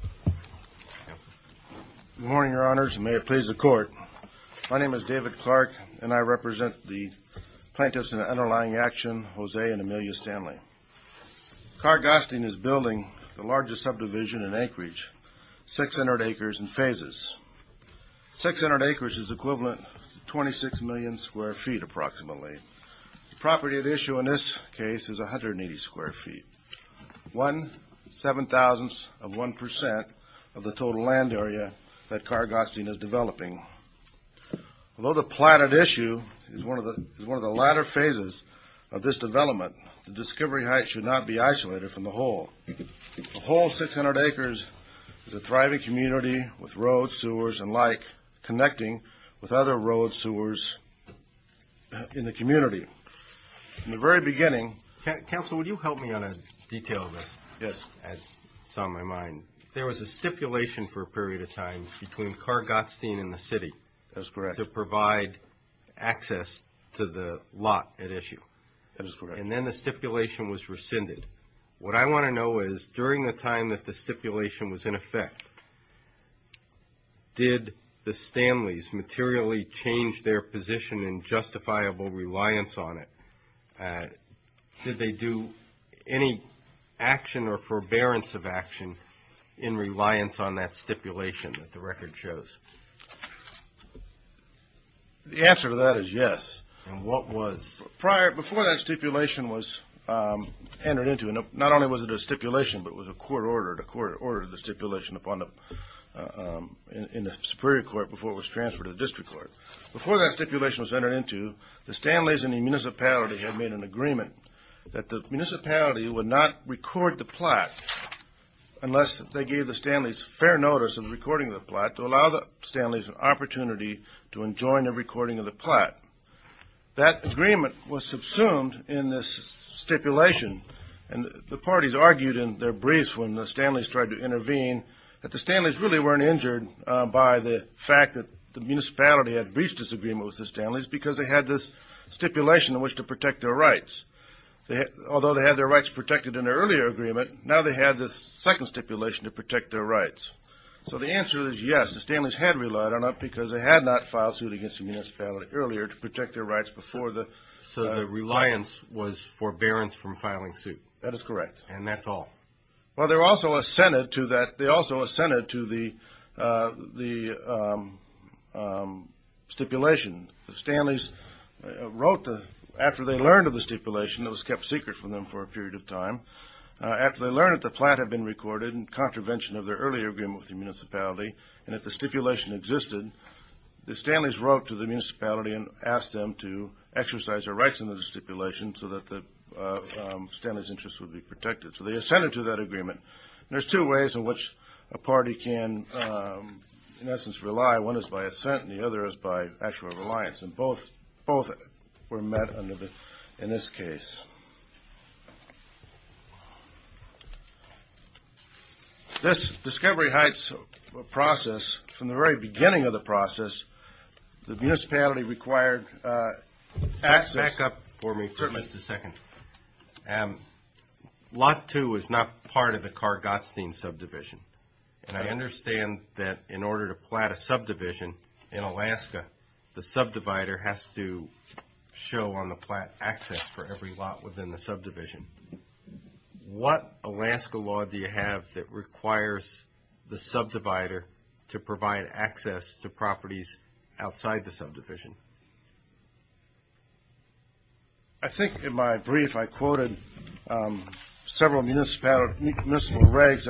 Good morning, Your Honors, and may it please the Court. My name is David Clark, and I represent the plaintiffs in the underlying action, Jose and Amelia Stanley. Carr-Gottstein is building the largest subdivision in Anchorage, 600 acres in phases. Six hundred acres is equivalent to 26 million square feet, approximately. The property at issue in this case is 180 square feet, one seven-thousandth of one percent of the total land area that Carr-Gottstein is developing. Although the plot at issue is one of the latter phases of this development, the discovery height should not be isolated from the whole. A whole 600 acres is a thriving community with roads, sewers, and like, connecting with other roads, sewers in the community. In the very beginning... Counsel, would you help me on a detail of this? Yes. It's on my mind. There was a stipulation for a period of time between Carr-Gottstein and the city... That is correct. ...to provide access to the lot at issue. That is correct. And then the stipulation was rescinded. What I want to know is, during the time that the stipulation was in effect, did the Stanleys materially change their position in justifiable reliance on it? Did they do any action or forbearance of action in reliance on that stipulation that the record shows? The answer to that is yes. And what was... Before that stipulation was entered into, and not only was it a stipulation, but it was a court order. The court ordered the stipulation in the Superior Court before it was transferred to the District Court. Before that stipulation was entered into, the Stanleys and the municipality had made an agreement that the municipality would not record the plot unless they gave the Stanleys fair notice of the recording of the plot to allow the Stanleys an opportunity to enjoin the recording of the plot. That agreement was subsumed in this stipulation. And the parties argued in their briefs when the Stanleys tried to intervene that the Stanleys really weren't injured by the fact that the municipality had breached this agreement with the Stanleys because they had this stipulation in which to protect their rights. Although they had their rights protected in their earlier agreement, now they had this second stipulation to protect their rights. So the answer is yes, the Stanleys had relied on it because they had not filed suit against the municipality earlier to protect their rights before the... So the reliance was forbearance from filing suit. That is correct. And that's all. Well, they also assented to the stipulation. The Stanleys wrote, after they learned of the stipulation, it was kept secret from them for a period of time. After they learned that the plot had been recorded in contravention of their earlier agreement with the municipality and that the stipulation existed, the Stanleys wrote to the municipality and asked them to exercise their rights under the stipulation so that the Stanleys' interests would be protected. So they assented to that agreement. There's two ways in which a party can, in essence, rely. One is by assent and the other is by actual reliance. And both were met in this case. This Discovery Heights process, from the very beginning of the process, the municipality required access... Back up for me for just a second. Lot 2 is not part of the Carr-Gottsen subdivision. And I understand that in order to plot a subdivision in Alaska, the subdivider has to show on the plot access for every lot within the subdivision. What Alaska law do you have that requires the subdivider to provide access to properties outside the subdivision? I think in my brief I quoted several municipal regs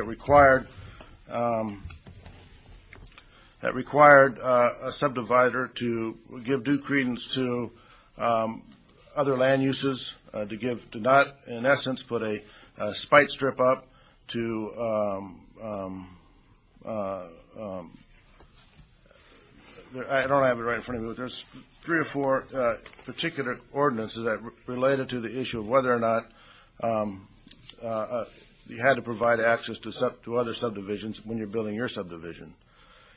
that required a subdivider to give due credence to other land uses, to not, in essence, put a spite strip up to... I don't have it right in front of me, but there's three or four particular ordinances that related to the issue of whether or not you had to provide access to other subdivisions when you're building your subdivision.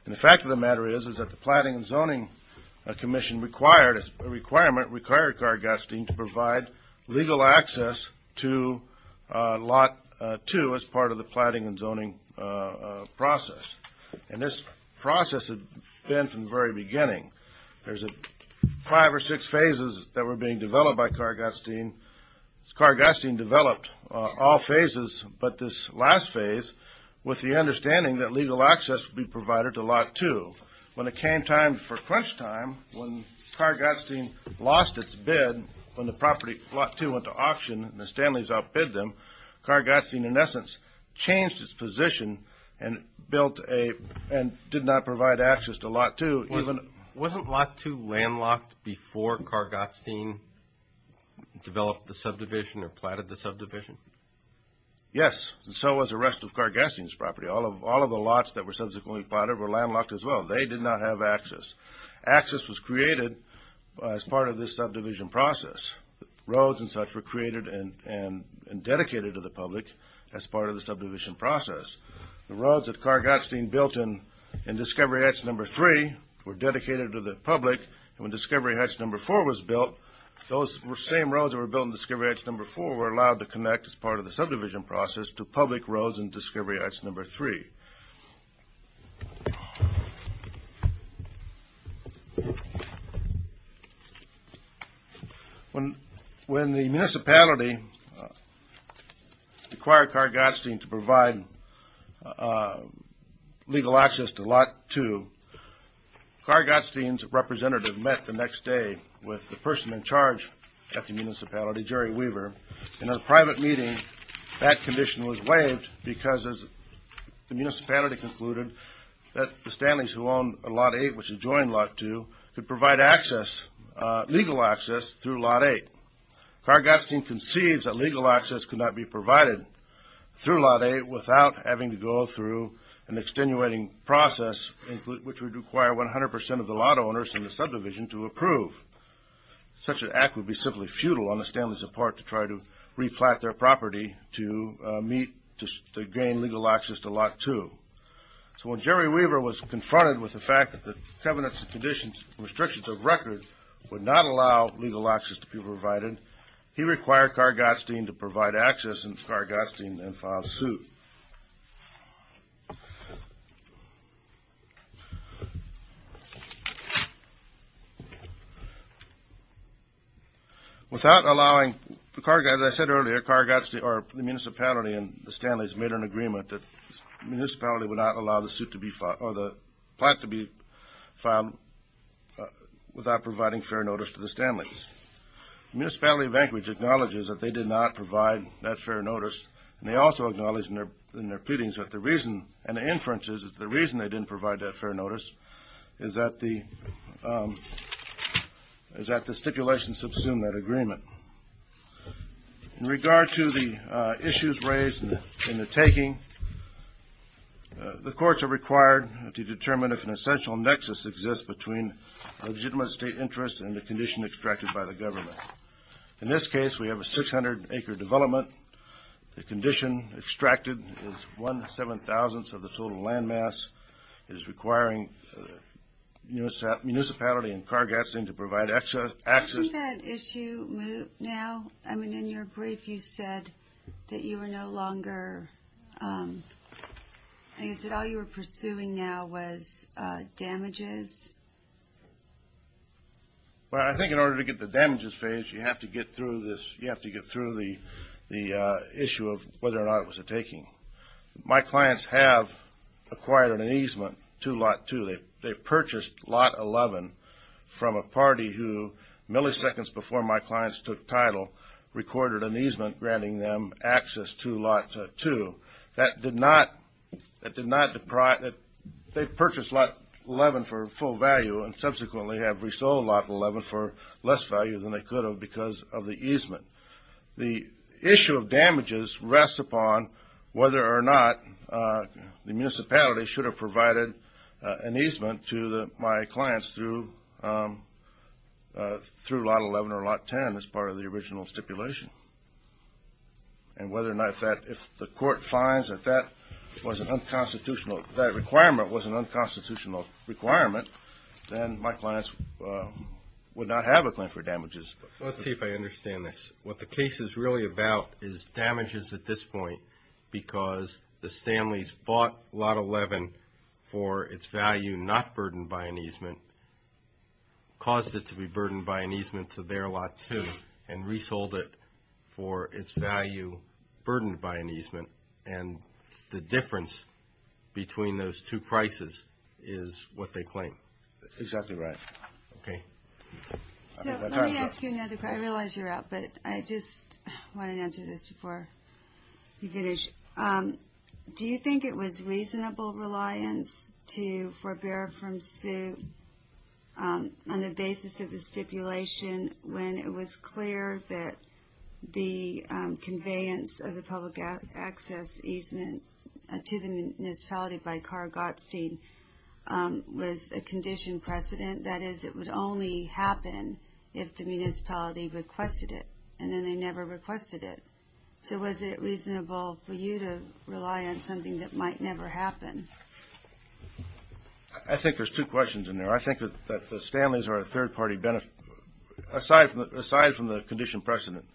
And the fact of the matter is, is that the Plotting and Zoning Commission required, as a requirement, required Carr-Gottsen to provide legal access to Lot 2 as part of the plotting and zoning process. And this process had been from the very beginning. There's five or six phases that were being developed by Carr-Gottsen. Carr-Gottsen developed all phases, but this last phase, with the understanding that legal access would be provided to Lot 2. When it came time for crunch time, when Carr-Gottsen lost its bid, when the property, Lot 2, went to auction and the Stanleys outbid them, Carr-Gottsen, in essence, changed its position and built a... and did not provide access to Lot 2. Wasn't Lot 2 landlocked before Carr-Gottsen developed the subdivision or plotted the subdivision? Yes, and so was the rest of Carr-Gottsen's property. All of the lots that were subsequently plotted were landlocked as well. They did not have access. Access was created as part of this subdivision process. Roads and such were created and dedicated to the public as part of the subdivision process. The roads that Carr-Gottsen built in Discovery Hatch No. 3 were dedicated to the public. When Discovery Hatch No. 4 was built, those same roads that were built in Discovery Hatch No. 4 were allowed to connect as part of the subdivision process to public roads in Discovery Hatch No. 3. When the municipality required Carr-Gottsen to provide legal access to Lot 2, Carr-Gottsen's representative met the next day with the person in charge at the municipality, Jerry Weaver. In a private meeting, that condition was waived because the municipality concluded that the Stanleys who owned Lot 8, which had joined Lot 2, could provide access, legal access, through Lot 8. Carr-Gottsen concedes that legal access could not be provided through Lot 8 without having to go through an extenuating process which would require 100% of the lot owners in the subdivision to approve. Such an act would be simply futile on the Stanley's part to try to replant their property to gain legal access to Lot 2. So when Jerry Weaver was confronted with the fact that the Covenant's restrictions of record would not allow legal access to be provided, he required Carr-Gottsen to provide access and Carr-Gottsen then filed suit. As I said earlier, the municipality and the Stanleys made an agreement that the municipality would not allow the plot to be filed without providing fair notice to the Stanleys. The municipality of Anchorage acknowledges that they did not provide that fair notice and they also acknowledge in their pleadings that the reason, and the inference is that the reason they didn't provide that fair notice is that the stipulations subsumed that agreement. In regard to the issues raised in the taking, the courts are required to determine if an essential nexus exists between legitimate state interest and the condition extracted by the government. In this case, we have a 600-acre development. The condition extracted is one-seven-thousandth of the total landmass. It is requiring municipality and Carr-Gottsen to provide access. Do you see that issue now? I mean, in your brief you said that you were no longer, you said all you were pursuing now was damages. Well, I think in order to get the damages phased, you have to get through this, you have to get through the issue of whether or not it was a taking. My clients have acquired an easement to Lot 2. They purchased Lot 11 from a party who, milliseconds before my clients took title, recorded an easement granting them access to Lot 2. That did not, that did not, they purchased Lot 11 for full value and subsequently have resold Lot 11 for less value than they could have because of the easement. The issue of damages rests upon whether or not the municipality should have provided an easement to my clients through Lot 11 or Lot 10 as part of the original stipulation. And whether or not that, if the court finds that that was an unconstitutional, that requirement was an unconstitutional requirement, then my clients would not have a claim for damages. Let's see if I understand this. What the case is really about is damages at this point because the Stanley's bought Lot 11 for its value not burdened by an easement, caused it to be burdened by an easement to their Lot 2, and resold it for its value burdened by an easement. And the difference between those two prices is what they claim. Exactly right. Okay. So let me ask you another question. I realize you're out, but I just wanted to answer this before we finish. Do you think it was reasonable reliance to forbear from suit on the basis of the stipulation when it was clear that the conveyance of the public access easement to the municipality by Carr Gottstein was a conditioned precedent? That is, it would only happen if the municipality requested it and then they never requested it. So was it reasonable for you to rely on something that might never happen? I think there's two questions in there. I think that the Stanley's are a third-party, aside from the conditioned precedent,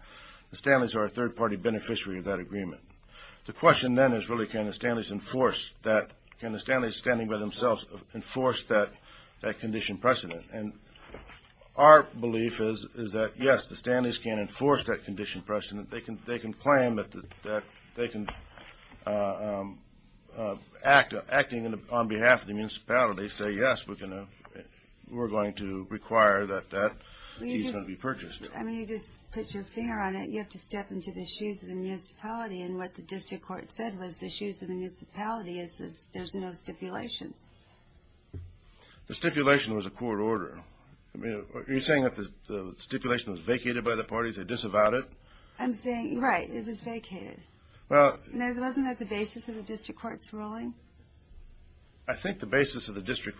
the Stanley's are a third-party beneficiary of that agreement. The question then is really, can the Stanley's standing by themselves enforce that conditioned precedent? And our belief is that, yes, the Stanley's can enforce that conditioned precedent. They can claim that they can, acting on behalf of the municipality, say, yes, we're going to require that that easement be purchased. I mean, you just put your finger on it. You have to step into the shoes of the municipality. And what the district court said was the shoes of the municipality is there's no stipulation. The stipulation was a court order. I mean, are you saying that the stipulation was vacated by the parties? They disavowed it? I'm saying, right, it was vacated. Wasn't that the basis of the district court's ruling? I think the basis of the district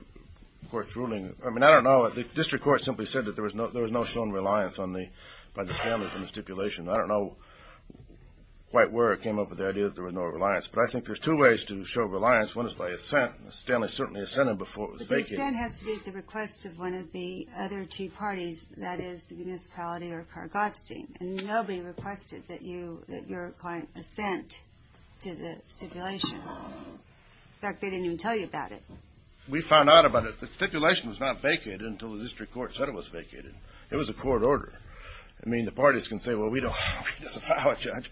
court's ruling, I mean, I don't know. The district court simply said that there was no shown reliance by the Stanley's on the stipulation. I don't know quite where it came up with the idea that there was no reliance. But I think there's two ways to show reliance. One is by assent. The Stanley's certainly assented before it was vacated. But the assent has to be at the request of one of the other two parties, that is the municipality or Kargatstein. And nobody requested that your client assent to the stipulation. In fact, they didn't even tell you about it. We found out about it. The stipulation was not vacated until the district court said it was vacated. It was a court order. I mean, the parties can say, well, we disavow it, Judge.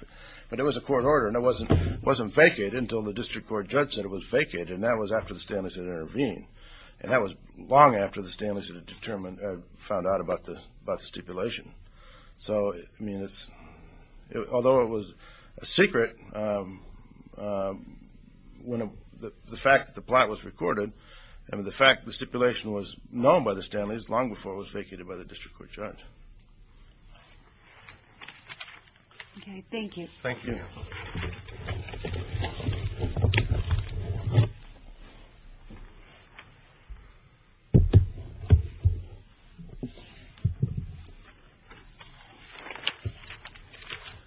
But it was a court order, and it wasn't vacated until the district court judge said it was vacated. And that was after the Stanley's had intervened. And that was long after the Stanley's had found out about the stipulation. So, I mean, although it was a secret, the fact that the plot was recorded, and the fact that the stipulation was known by the Stanley's long before it was vacated by the district court judge. Okay. Thank you. Thank you.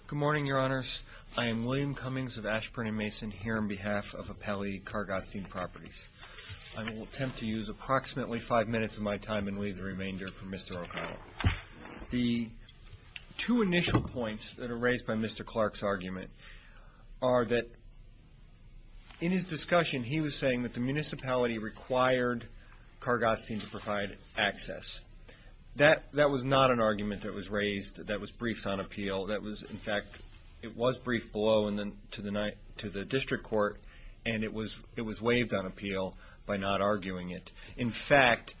Good morning, Your Honors. I am William Cummings of Ashburn & Mason here on behalf of Appellee Kargatstein Properties. I will attempt to use approximately five minutes of my time and leave the remainder for Mr. O'Connell. The two initial points that are raised by Mr. Clark's argument are that in his discussion, he was saying that the municipality required Kargatstein to provide access. That was not an argument that was raised that was briefed on appeal. In fact, it was briefed below to the district court, and it was waived on appeal by not arguing it. In fact,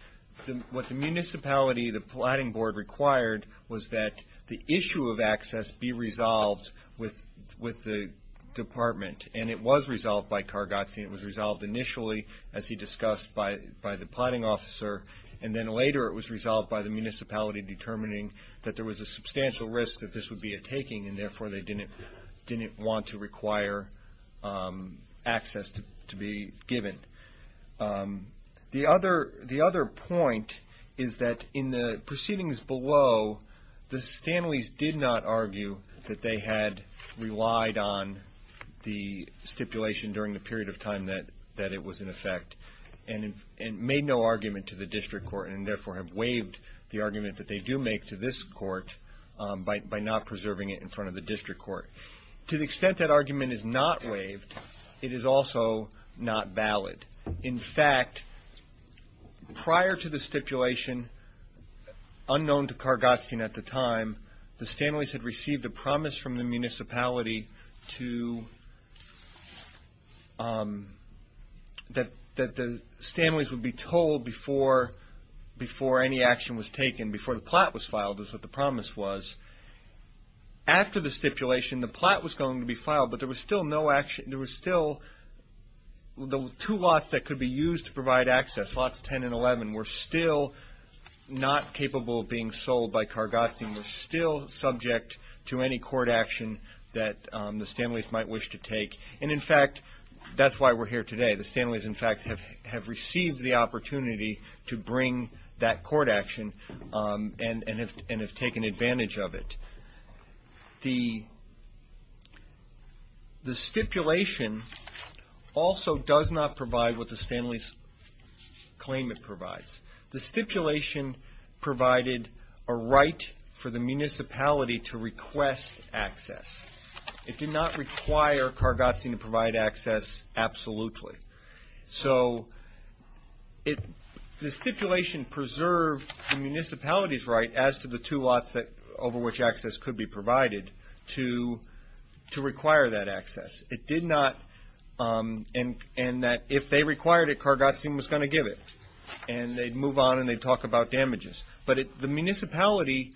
what the municipality, the plotting board required, was that the issue of access be resolved with the department. And it was resolved by Kargatstein. It was resolved initially, as he discussed, by the plotting officer. And then later it was resolved by the municipality, determining that there was a substantial risk that this would be a taking, and therefore they didn't want to require access to be given. The other point is that in the proceedings below, the Stanleys did not argue that they had relied on the stipulation during the period of time that it was in effect, and made no argument to the district court, and therefore have waived the argument that they do make to this court by not preserving it in front of the district court. To the extent that argument is not waived, it is also not valid. In fact, prior to the stipulation, unknown to Kargatstein at the time, the Stanleys had received a promise from the municipality that the Stanleys would be told before any action was taken, before the plot was filed, is what the promise was. After the stipulation, the plot was going to be filed, but there was still no action, there were still two lots that could be used to provide access, lots 10 and 11, were still not capable of being sold by Kargatstein, were still subject to any court action that the Stanleys might wish to take. And in fact, that's why we're here today. The Stanleys, in fact, have received the opportunity to bring that court action and have taken advantage of it. The stipulation also does not provide what the Stanleys claim it provides. The stipulation provided a right for the municipality to request access. It did not require Kargatstein to provide access, absolutely. So the stipulation preserved the municipality's right as to the two lots over which access could be provided to require that access. It did not, and that if they required it, Kargatstein was going to give it, and they'd move on and they'd talk about damages. But the municipality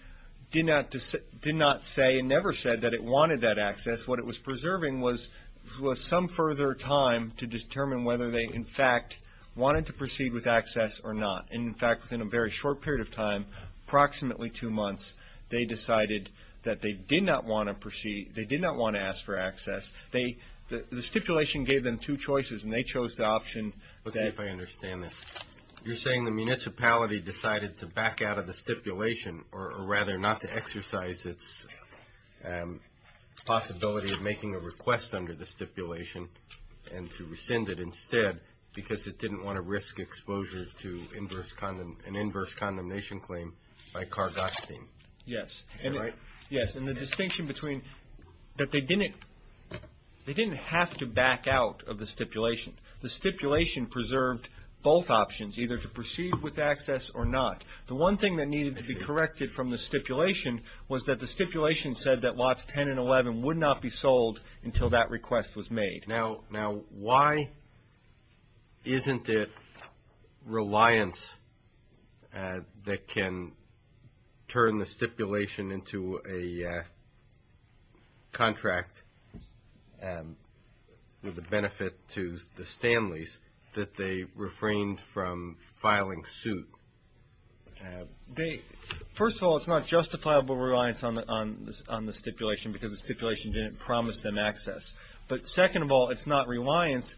did not say and never said that it wanted that access. What it was preserving was some further time to determine whether they, in fact, wanted to proceed with access or not. And in fact, within a very short period of time, approximately two months, they decided that they did not want to ask for access. The stipulation gave them two choices, and they chose the option. Let's see if I understand this. You're saying the municipality decided to back out of the stipulation, or rather not to exercise its possibility of making a request under the stipulation and to rescind it instead because it didn't want to risk exposure to an inverse condemnation claim by Kargatstein. Yes. Is that right? Yes, and the distinction between that they didn't have to back out of the stipulation. The stipulation preserved both options, either to proceed with access or not. The one thing that needed to be corrected from the stipulation was that the stipulation said that lots 10 and 11 would not be sold until that request was made. Now, why isn't it reliance that can turn the stipulation into a contract with the benefit to the Stanleys that they refrained from filing suit? First of all, it's not justifiable reliance on the stipulation because the stipulation didn't promise them access. But second of all, it's not reliance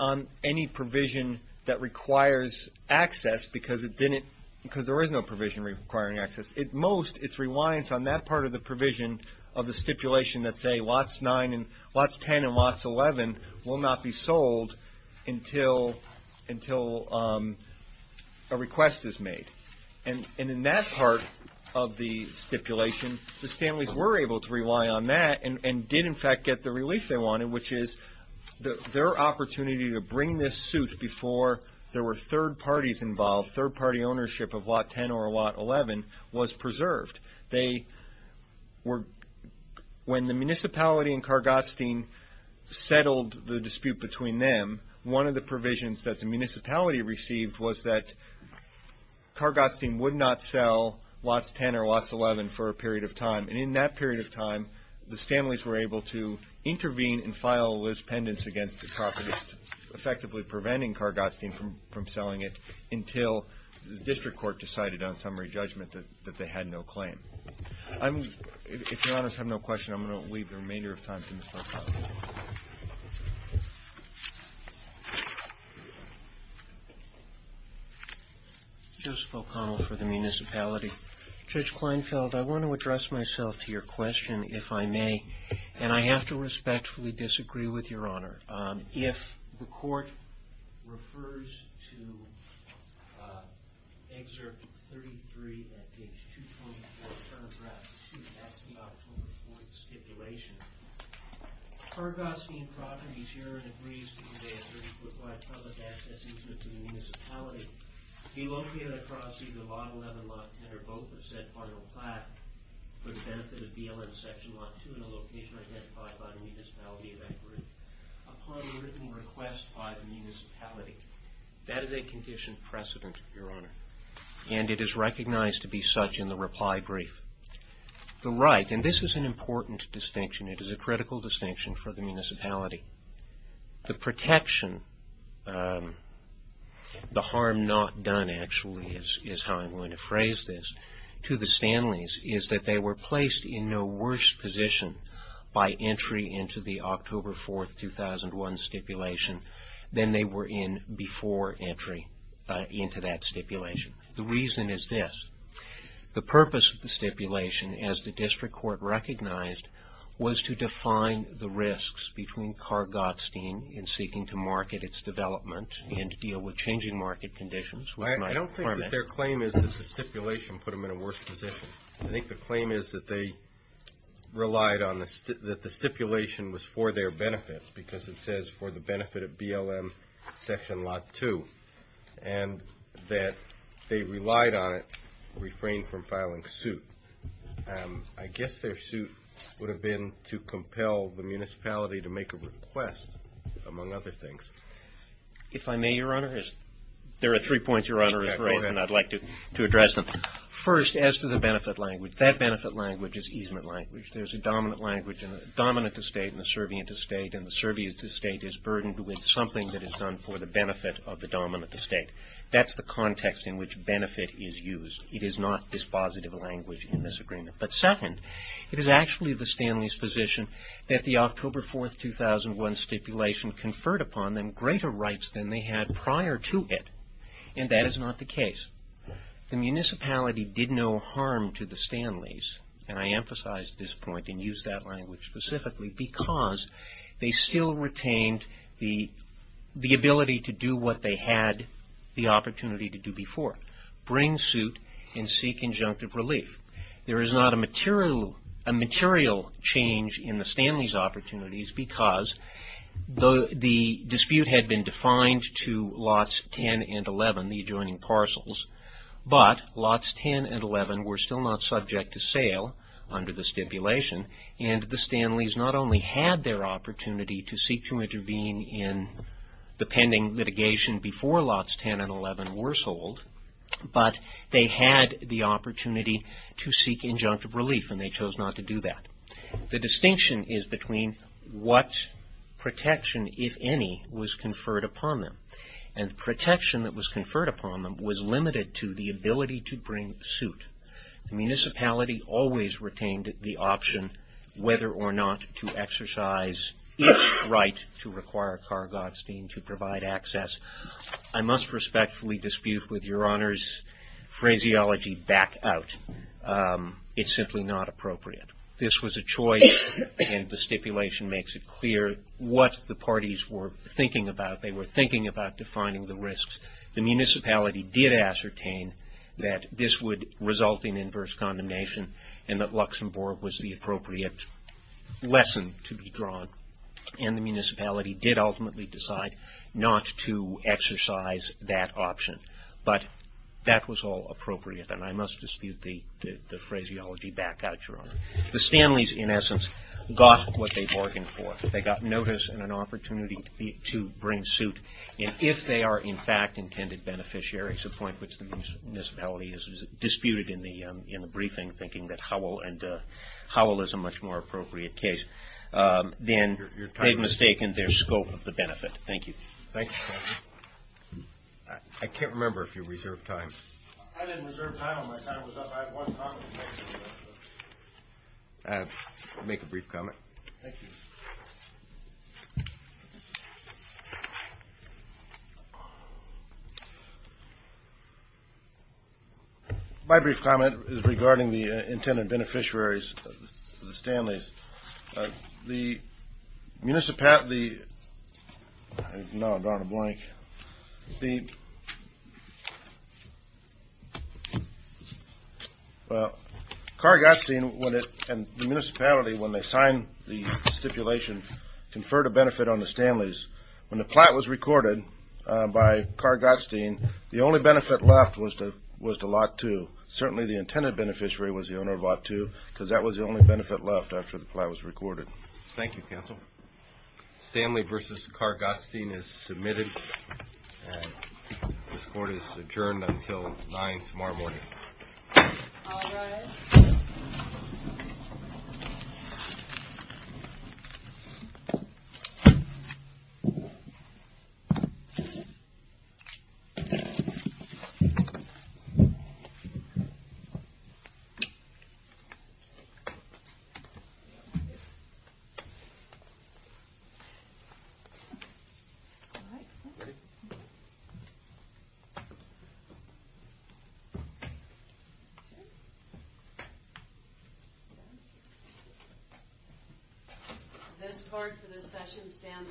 on any provision that requires access because there is no provision requiring access. At most, it's reliance on that part of the provision of the stipulation that say lots 10 and lots 11 will not be sold until a request is made. And in that part of the stipulation, the Stanleys were able to rely on that and did in fact get the relief they wanted, which is their opportunity to bring this suit before there were third parties involved, third party ownership of lot 10 or lot 11 was preserved. When the municipality and Kargatstein settled the dispute between them, one of the provisions that the municipality received was that Kargatstein would not sell lots 10 or lots 11 for a period of time. And in that period of time, the Stanleys were able to intervene and file a list pendants against the property, effectively preventing Kargatstein from selling it until the district court decided on summary judgment that they had no claim. If Your Honors have no questions, I'm going to leave the remainder of time to Mr. O'Connell. Judge O'Connell for the municipality. Judge Kleinfeld, I want to address myself to your question, if I may. And I have to respectfully disagree with Your Honor. If the court refers to Excerpt 33 at page 224, paragraph 2, that's the October 4th stipulation, Kargatstein Properties herein agrees to convey a 34-ply public access instrument to the municipality, to be located across either lot 11, lot 10, or both of said final plaque, for the benefit of BLM section lot 2 in a location identified by the municipality of that group, upon the written request by the municipality. That is a conditioned precedent, Your Honor. And it is recognized to be such in the reply brief. The right, and this is an important distinction. It is a critical distinction for the municipality. The protection, the harm not done actually is how I'm going to phrase this, to the Stanleys is that they were placed in no worse position by entry into the October 4th, 2001 stipulation than they were in before entry into that stipulation. The reason is this. The purpose of the stipulation, as the district court recognized, was to define the risks between Kargatstein in seeking to market its development and deal with changing market conditions. I don't think that their claim is that the stipulation put them in a worse position. I think the claim is that they relied on the stipulation was for their benefit, because it says for the benefit of BLM section lot 2, and that they relied on it, refrained from filing suit. I guess their suit would have been to compel the municipality to make a request, among other things. If I may, Your Honor, there are three points Your Honor has raised, and I'd like to address them. First, as to the benefit language, that benefit language is easement language. There's a dominant language in the dominant estate and the servient estate, is burdened with something that is done for the benefit of the dominant estate. That's the context in which benefit is used. It is not dispositive language in this agreement. But second, it is actually the Stanley's position that the October 4th, 2001 stipulation conferred upon them greater rights than they had prior to it. And that is not the case. The municipality did no harm to the Stanleys, and I emphasize this point and use that language specifically, because they still retained the ability to do what they had the opportunity to do before, bring suit and seek injunctive relief. There is not a material change in the Stanley's opportunities, because the dispute had been defined to lots 10 and 11, the adjoining parcels, but lots 10 and 11 were still not subject to sale under the stipulation, and the Stanleys not only had their opportunity to seek to intervene in the pending litigation before lots 10 and 11 were sold, but they had the opportunity to seek injunctive relief, and they chose not to do that. The distinction is between what protection, if any, was conferred upon them. And the protection that was conferred upon them was limited to the ability to bring suit. The municipality always retained the option whether or not to exercise its right to require Carr-Godstein to provide access. I must respectfully dispute with Your Honor's phraseology, back out. It's simply not appropriate. This was a choice, and the stipulation makes it clear what the parties were thinking about. Defining the risks. The municipality did ascertain that this would result in inverse condemnation, and that Luxembourg was the appropriate lesson to be drawn, and the municipality did ultimately decide not to exercise that option. But that was all appropriate, and I must dispute the phraseology back out, Your Honor. The Stanleys, in essence, got what they bargained for. They got notice and an opportunity to bring suit. And if they are, in fact, intended beneficiaries, a point which the municipality has disputed in the briefing, thinking that Howell is a much more appropriate case, then they've mistaken their scope of the benefit. Thank you. Thank you, Your Honor. I can't remember if you reserved time. I didn't reserve time. My time was up. I had one comment. I have to make a brief comment. Thank you. My brief comment is regarding the intended beneficiaries of the Stanleys. The municipality, when they signed the stipulation, conferred a benefit on the Stanleys. When the plat was recorded by Carr-Gottstein, the only benefit left was to Lot 2. Certainly, the intended beneficiary was the owner of Lot 2, because that was the only benefit left after the plat was recorded. Thank you, counsel. Stanley v. Carr-Gottstein is submitted. This court is adjourned until 9 tomorrow morning. All rise. Thank you. This court for this session stands adjourned. Thank you.